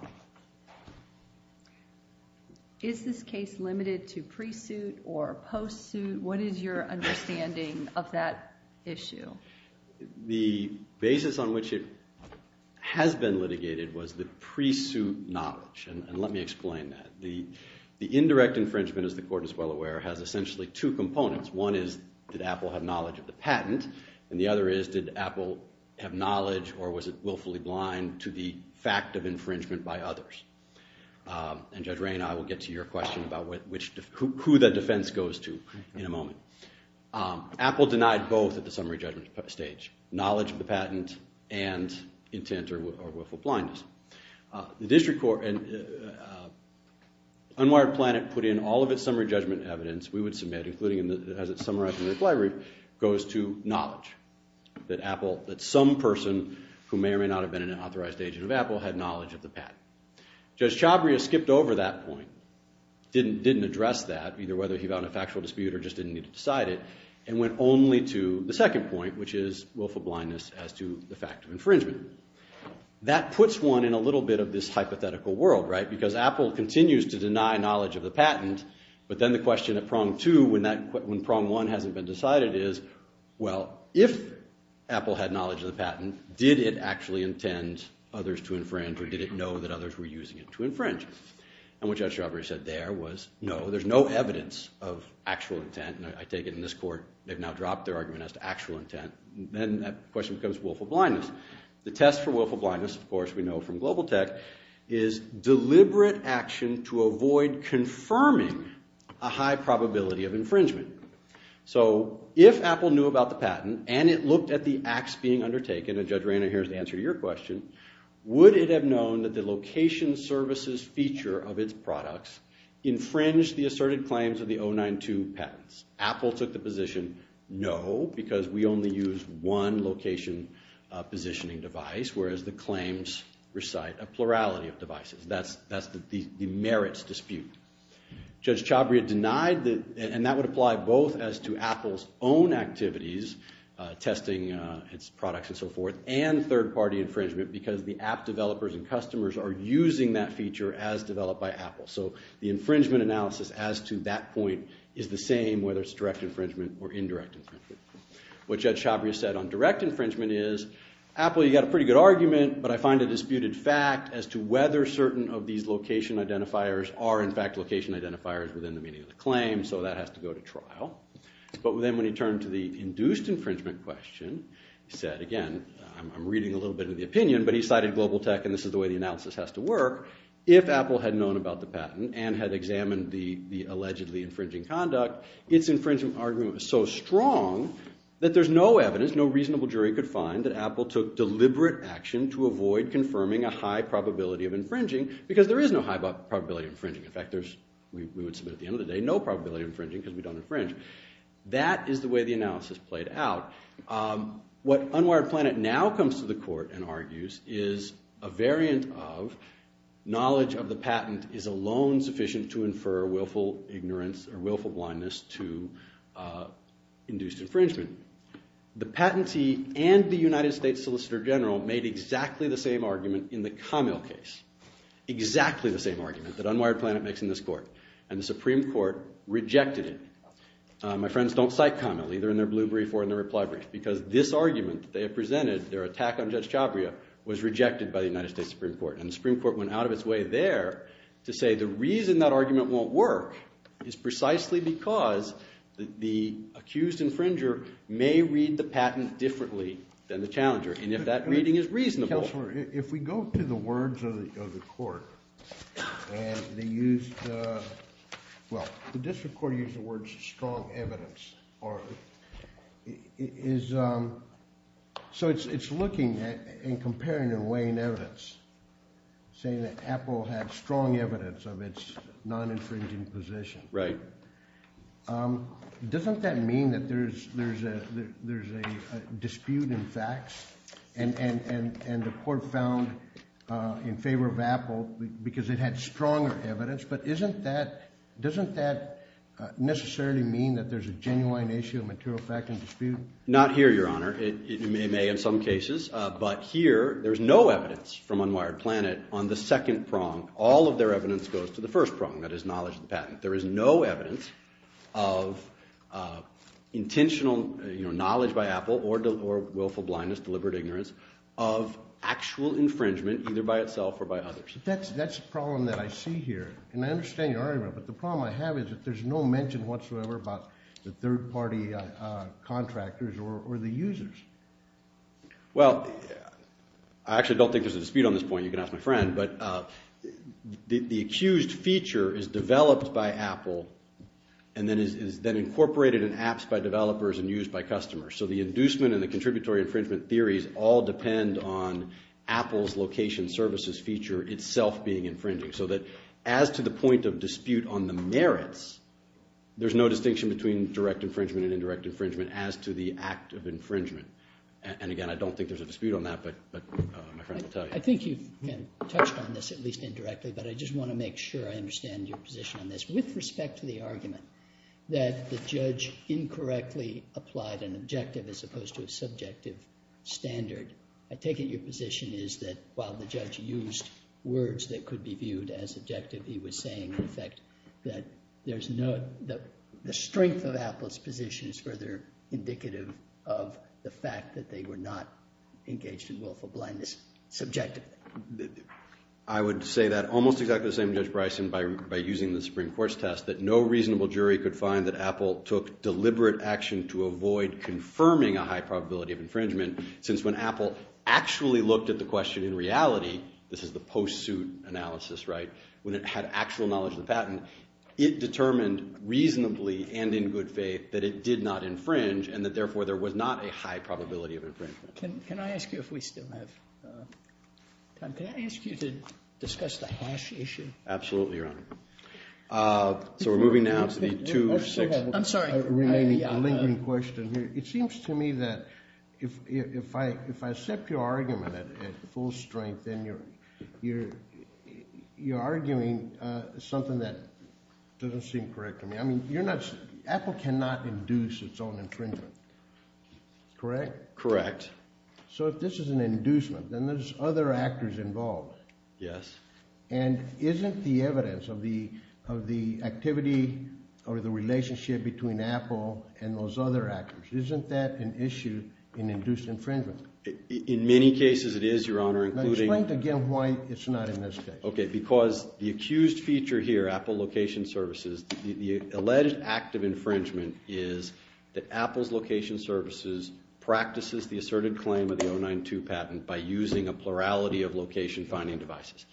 Is this case limited to pre-suit or post-suit? What is your understanding of that issue? The basis on which it has been litigated was the pre-suit knowledge. And let me explain that. The indirect infringement, as the Court is well aware, has essentially two components. One is, did Apple have knowledge of the patent? And the other is, did Apple have knowledge or was it willfully blind to the fact of infringement by others? And Judge Ray and I will get to your question about who the defense goes to in a moment. Apple denied both at the summary judgment stage. Knowledge of the patent and intent or willful blindness. The District Court and Unwired Planet put in all of its summary judgment evidence we would submit, including as it's summarized in the reply group, goes to knowledge that some person who may or may not have been an authorized agent of Apple had knowledge of the patent. Judge Chabria skipped over that point, didn't address that, either whether he vowed in a factual dispute or just didn't need to decide it, and went only to the second point, which is willful blindness as to the fact of infringement. That puts one in a little bit of this hypothetical world, right? Because Apple continues to deny knowledge of the patent, but then the question at prong two when prong one hasn't been decided is, well, if Apple had knowledge of the patent, did it actually intend others to infringe or did it know that others were using it to infringe? And what Judge Chabria said there was, no, there's no evidence of actual intent and I take it in this court, they've now dropped their argument as to actual intent. Then that question becomes willful blindness. The test for willful blindness, of course, we know from global tech, is deliberate action to avoid confirming a high probability of infringement. So, if Apple knew about the patent and it looked at the acts being undertaken, and Judge Rayner, here's the answer to your question, would it have known that the location services feature of its products infringed the asserted claims of the 092 patents? Apple took the position, no, because we only use one location positioning device, whereas the claims recite a plurality of devices. That's the merits dispute. Judge Chabria denied, and that would apply both as to Apple's own activities testing its products and so forth, and third party infringement because the app developers and customers are using that feature as developed by Apple. So, the infringement analysis as to that point is the same whether it's direct infringement or indirect infringement. What Judge Chabria said on direct infringement is Apple, you've got a pretty good argument, but I find a disputed fact as to whether certain of these location identifiers are in fact location identifiers within the meaning of the claim, so that has to go to trial. But then when he turned to the induced infringement question, he said again, I'm reading a little bit of the opinion, but he cited global tech and this is the way the analysis has to work, if Apple had known about the patent and had examined the allegedly infringing conduct, its infringement argument was so strong that there's no evidence, no reasonable jury could find that Apple took deliberate action to avoid confirming a high probability of infringing because there is no high probability of infringing. In fact, we would submit at the end of the day no probability of infringing because we don't infringe. That is the way the analysis played out. What Unwired Planet now comes to the court and argues is a variant of knowledge of the patent is alone sufficient to infer willful ignorance or willful blindness to induced infringement. The patentee and the United States Solicitor General made exactly the same argument in the Kamil case. Exactly the same argument that Unwired Planet makes in this court and the Supreme Court rejected it. My friends don't cite Kamil, either in their blue brief or in their reply brief, because this argument they presented, their attack on Judge Chabria was rejected by the United States Supreme Court and the Supreme Court went out of its way there to say the reason that argument won't work is precisely because the accused infringer may read the patent differently than the challenger and if that reading is reasonable. Counselor, if we go to the words of the court and they used well, the district court used the words strong evidence or is so it's looking at and saying that Apple had strong evidence of its non-infringing position. Right. Doesn't that mean that there's a dispute in facts and the court found in favor of Apple because it had stronger evidence but isn't that necessarily mean that there's a genuine issue of material fact and dispute? Not here, Your Honor. It may in some cases, but here there's no evidence from Unwired Planet on the second prong. All of their evidence goes to the first prong, that is knowledge of the patent. There is no evidence of intentional knowledge by Apple or willful blindness, deliberate ignorance of actual infringement either by itself or by others. That's the problem that I see here and I understand your argument, but the problem I have is that there's no mention whatsoever about the third party contractors or the users. Well, I actually don't think there's a dispute on this point. You can ask my friend, but the accused feature is developed by Apple and then is then incorporated in apps by developers and used by customers. So the inducement and the contributory infringement theories all depend on Apple's location services feature itself being infringing so that as to the point of dispute on the merits, there's no distinction between direct infringement and indirect infringement as to the act of infringement. And again, I don't think there's a dispute on that, but my friend will tell you. I think you've touched on this, at least indirectly, but I just want to make sure I understand your position on this with respect to the argument that the judge incorrectly applied an objective as opposed to a subjective standard. I take it your position is that while the judge used words that could be viewed as objective, he was saying, in effect, that there's no, the strength of Apple's position is further indicative of the fact that they were not engaged in willful blindness subjectively. I would say that almost exactly the same, Judge Bryson, by using the Supreme Court's test, that no reasonable jury could find that Apple took deliberate action to avoid confirming a high probability of infringement since when Apple actually looked at the question in reality, this is the post-suit analysis, right, when it had actual knowledge of the patent, it determined reasonably and in good faith that it did not infringe and that therefore there was not a high probability of infringement. Can I ask you if we still have time, can I ask you to discuss the hash issue? Absolutely, Your Honor. So we're moving now to the two-sixth remaining lingering question here. It seems to me that if I accept your argument at full strength then you're arguing something that doesn't seem correct to me. I mean, you're not, Apple cannot induce its own infringement. Correct? Correct. So if this is an inducement, then there's other actors involved. Yes. And isn't the evidence of the activity or the relationship between Apple and those other actors, isn't that an issue in induced infringement? In many cases it is, Your Honor, including... Now explain again why it's not in this case. Okay, because the accused feature here, Apple location services, the alleged act of infringement is that Apple's location services practices the asserted claim of the 092 patent by using a plurality of location-finding devices.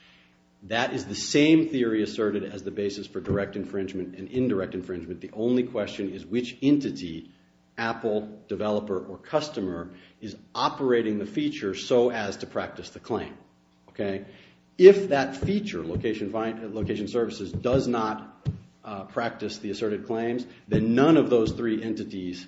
That is the same theory asserted as the basis for direct infringement and indirect infringement. The only question is which entity, Apple developer or customer, is operating the feature so as to practice the claim. Okay? If that feature, location services, does not practice the asserted claims, then none of those three entities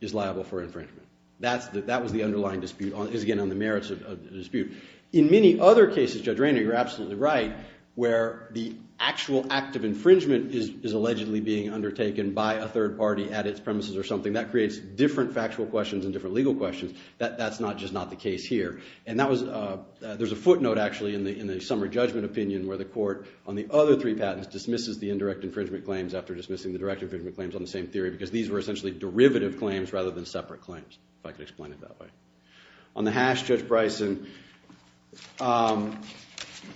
is liable for infringement. That was the underlying dispute, again, on the merits of the dispute. In many other cases, Judge Rainer, you're absolutely right, where the actual act of infringement is allegedly being undertaken by a third party at its premises or something, that creates different factual questions and different legal questions. That's just not the case here. There's a footnote, actually, in the summer judgment opinion where the court on the other three patents dismisses the indirect infringement claims after dismissing the direct infringement claims on the same theory because these were essentially derivative claims rather than separate claims, if I could explain it that way. On the hash, Judge Bryson,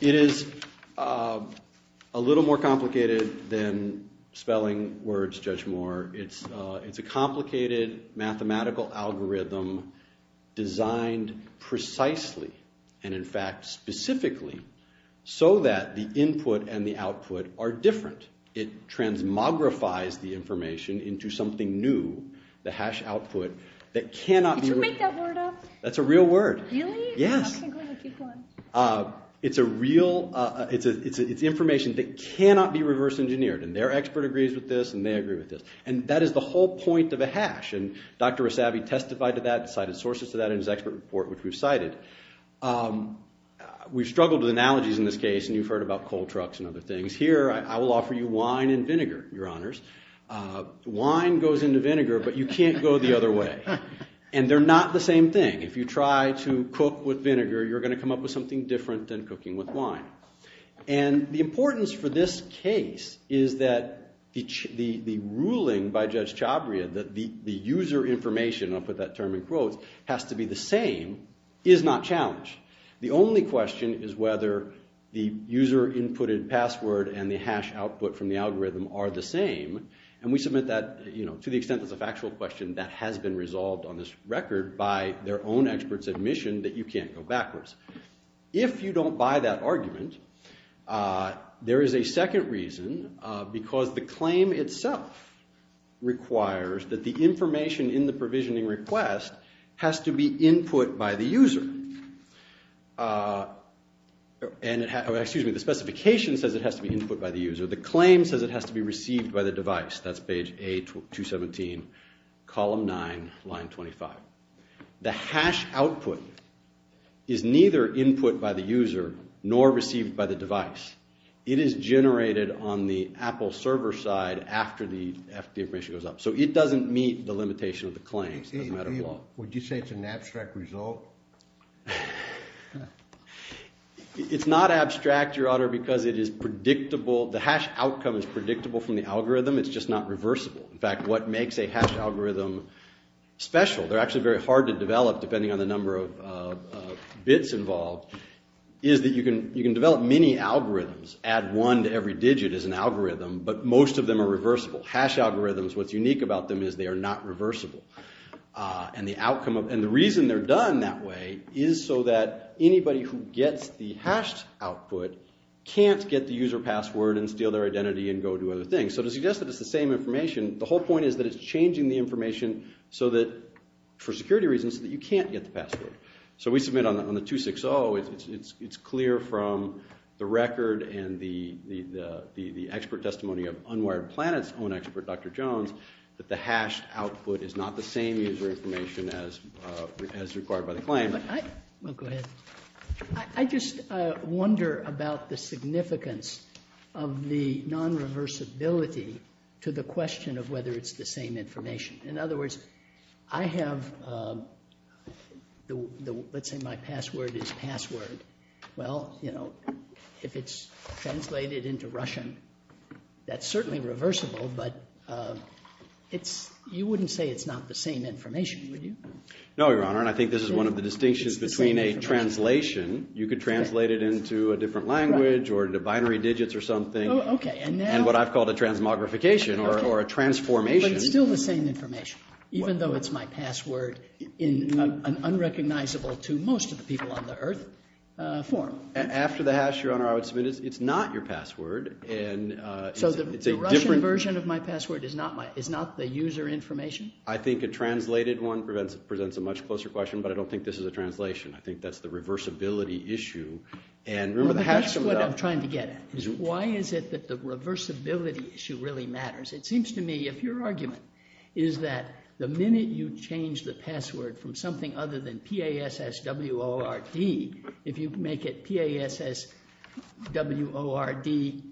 it is a little more complicated than spelling words, Judge Moore. It's a complicated mathematical algorithm designed and, in fact, specifically so that the input and the output are different. It transmogrifies the information into something new, the hash output, that cannot be... Did you make that word up? That's a real word. Really? Yes. It's a real... It's information that cannot be reverse-engineered, and their expert agrees with this and they agree with this, and that is the whole point of a hash, and Dr. Rosavi testified to that, cited sources to that, in his expert report, which we've cited. We've struggled with analogies in this case, and you've heard about coal trucks and other things. Here, I will offer you wine and vinegar, Your Honors. Wine goes into vinegar, but you can't go the other way. And they're not the same thing. If you try to cook with vinegar, you're going to come up with something different than cooking with wine. And the importance for this case is that the ruling by Judge Chabria, that the user information, and I'll put that term in quotes, has to be the same, is not challenged. The only question is whether the user-inputted password and the hash output from the algorithm are the same, and we submit that, to the extent that it's a factual question, that has been resolved on this record by their own expert's admission that you can't go backwards. If you don't buy that argument, there is a second reason, because the claim itself requires that the information in the provisioning request has to be input by the user. The specification says it has to be input by the user. The claim says it has to be received by the device. That's page A217, column 9, line 25. The hash output is neither input by the user, nor received by the device. It is generated on the Apple server side after the information goes up. So it doesn't meet the limitation of the claims. Would you say it's an abstract result? It's not abstract, Your Honor, because it is predictable. The hash outcome is predictable from the algorithm, it's just not reversible. In fact, what makes a hash algorithm special, they're actually very hard to develop, depending on the number of bits involved, is that you can develop many algorithms. Add one to every digit is an algorithm, but most of them are reversible. Hash algorithms, what's unique about them is they are not reversible. And the outcome of, and the reason they're done that way is so that anybody who gets the hashed output can't get the user password and steal their identity and go do other things. So to suggest that it's the same information, the whole point is that it's changing the information so that, for security reasons, so that you can't get the password. So we submit on the 260, it's clear from the record and the expert testimony of Unwired Planet's own expert, Dr. Jones, that the hashed output is not the same user information as required by the claim. I just wonder about the significance of the non- reversibility to the question of whether it's the same information. In other words, I have the, let's say my password is password. Well, you know, if it's translated into Russian, that's certainly reversible, but it's, you wouldn't say it's not the same information, would you? No, Your Honor, and I think this is one of the distinctions between a translation, you could translate it into a different language or into binary digits or something, and what I've called a transmogrification or a transformation. But it's still the same information, even though it's my password in an unrecognizable to most of the people on the Earth form. After the hash, Your Honor, I would submit it's not your password. So the Russian version of my password is not the user information? I think a translated one presents a much closer question, but I don't think this is a translation. I think that's the reversibility issue. That's what I'm trying to get at. Why is it that the reversibility issue really matters? It seems to me if your argument is that the minute you change the password from something other than P-A-S-S- W-O-R-D, if you make it P-A-S-S- W-O-R-D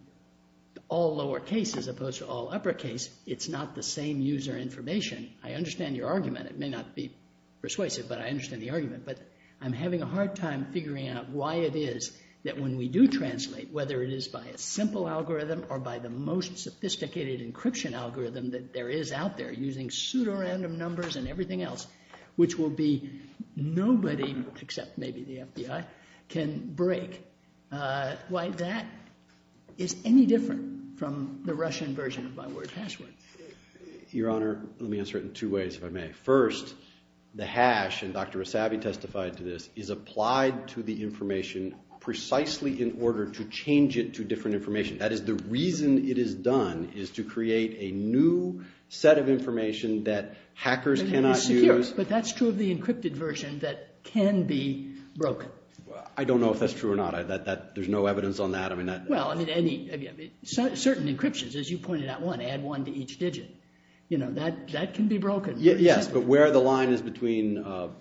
all lowercase as opposed to all uppercase, it's not the same user information. I understand your argument. It may not be persuasive, but I understand the argument. But I'm having a hard time figuring out why it is that when we do translate, whether it is by a simple algorithm or by the most common algorithm that there is out there using pseudorandom numbers and everything else, which will be nobody, except maybe the FBI, can break. Why that is any different from the Russian version of my word password? Your Honor, let me answer it in two ways if I may. First, the hash, and Dr. Asabi testified to this, is applied to the information precisely in order to change it to different information. That is the reason it is done, is to create a new set of information that hackers cannot use. But that's true of the encrypted version that can be broken. I don't know if that's true or not. There's no evidence on that. Certain encryptions, as you pointed out, add one to each digit. That can be broken. Yes, but where the line is between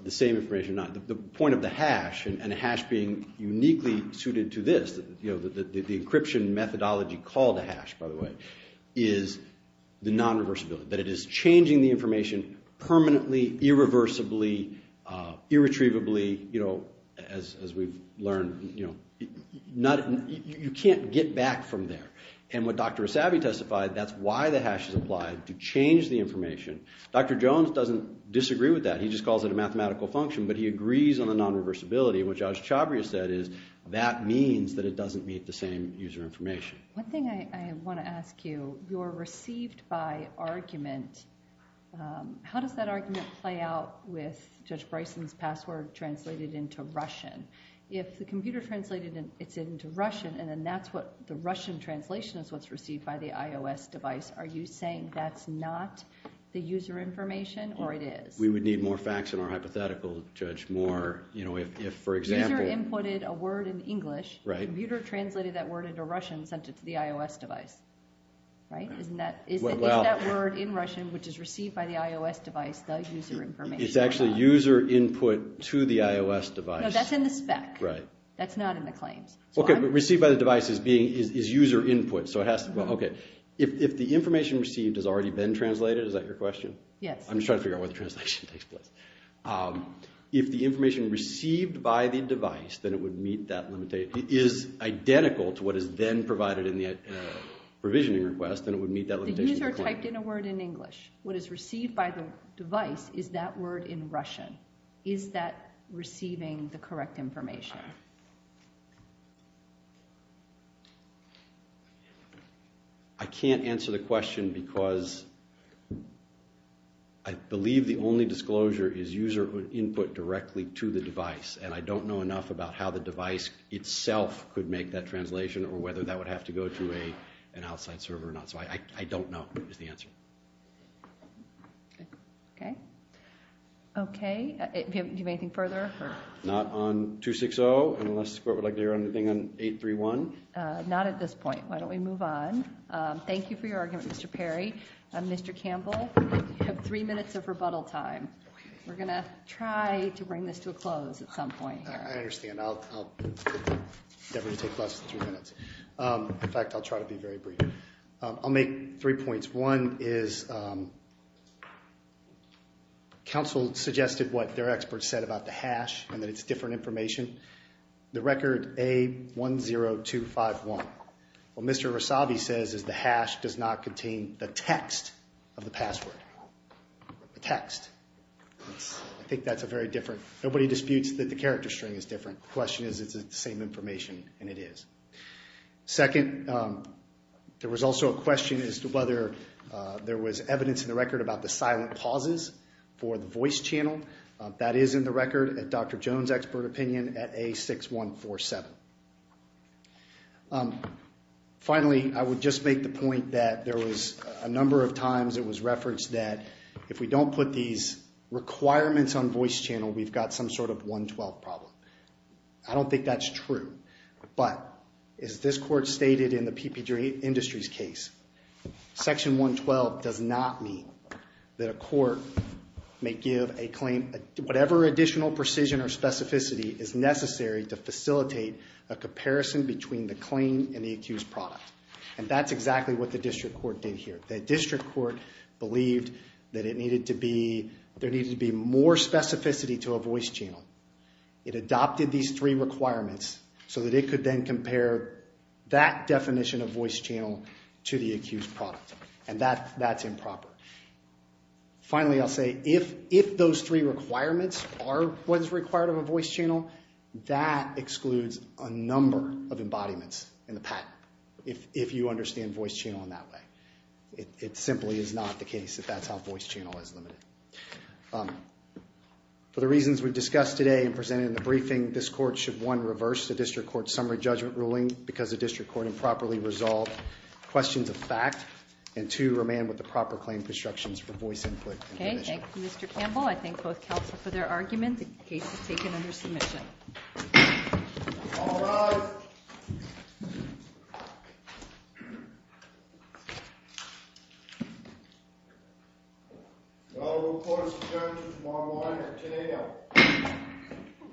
the same information or not, the point of the hash and a hash being uniquely suited to this, the hash, by the way, is the non-reversibility, that it is changing the information permanently, irreversibly, irretrievably, as we've learned. You can't get back from there. And what Dr. Asabi testified, that's why the hash is applied, to change the information. Dr. Jones doesn't disagree with that. He just calls it a mathematical function, but he agrees on the non-reversibility. What Josh Chabria said is that means that it doesn't meet the same user information. One thing I want to ask you, you're received by argument. How does that argument play out with Judge Bryson's password translated into Russian? If the computer translated it into Russian, and then that's what the Russian translation is what's received by the IOS device, are you saying that's not the user information, or it is? We would need more facts in our hypothetical, Judge. User inputted a word in English, the computer translated that word into Russian and sent it to the IOS device. Isn't that word in Russian, which is received by the IOS device, the user information? It's actually user input to the IOS device. No, that's in the spec. That's not in the claims. Received by the device is user input. If the information received has already been translated, is that your question? Yes. I'm just trying to figure out where the translation takes place. If the information received by the device is identical to what is then provided in the provisioning request, then it would meet that limitation. The user typed in a word in English. What is received by the device is that word in Russian. Is that receiving the correct information? I can't answer the question because I believe the only disclosure is user input directly to the device, and I don't know enough about how the device itself could make that translation or whether that would have to go to an outside server or not. I don't know is the answer. Do you have anything further? Not on 260 unless the court would like to hear anything on 831. Not at this point. Why don't we move on? Thank you for your argument, Mr. Perry. Mr. Campbell, you have three minutes of rebuttal time. We're going to try to bring this to a close at some point. I understand. In fact, I'll try to be very brief. I'll make three points. One is counsel suggested what their experts said about the hash and that it's different information. The record, A10251. What Mr. Rosavi says is the hash does not contain the text of the password. The text. I think that's a very different nobody disputes that the character string is different. The question is is it the same information and it is. Second, there was also a question as to whether there was evidence in the record about the silent pauses for the voice channel. That is in the record at Dr. Jones' expert opinion at A6147. Finally, I would just make the point that there was a number of times it was referenced that if we don't put these requirements on voice channel, we've got some sort of 112 problem. I don't think that's true. But as this court stated in the PP Industries case, section 112 does not mean that a court may give a claim whatever additional precision or specificity is necessary to facilitate a comparison between the claim and the accused product. And that's exactly what the district court did here. The district court believed that it needed to be there needed to be more specificity to a voice channel. It adopted these three requirements so that it could then compare that definition of voice channel to the accused product. And that's improper. Finally, I'll say if those three requirements are what is required of a voice channel, that excludes a number of if you understand voice channel in that way. It simply is not the case that that's how voice channel is limited. For the reasons we've discussed today and presented in the briefing, this court should, one, reverse the district court's summary judgment ruling because the district court improperly resolved questions of fact, and two, remain with the proper claim constructions for voice input in the division. Okay, thank you Mr. Campbell. I thank both counsel for their argument. The case is taken under submission. All rise................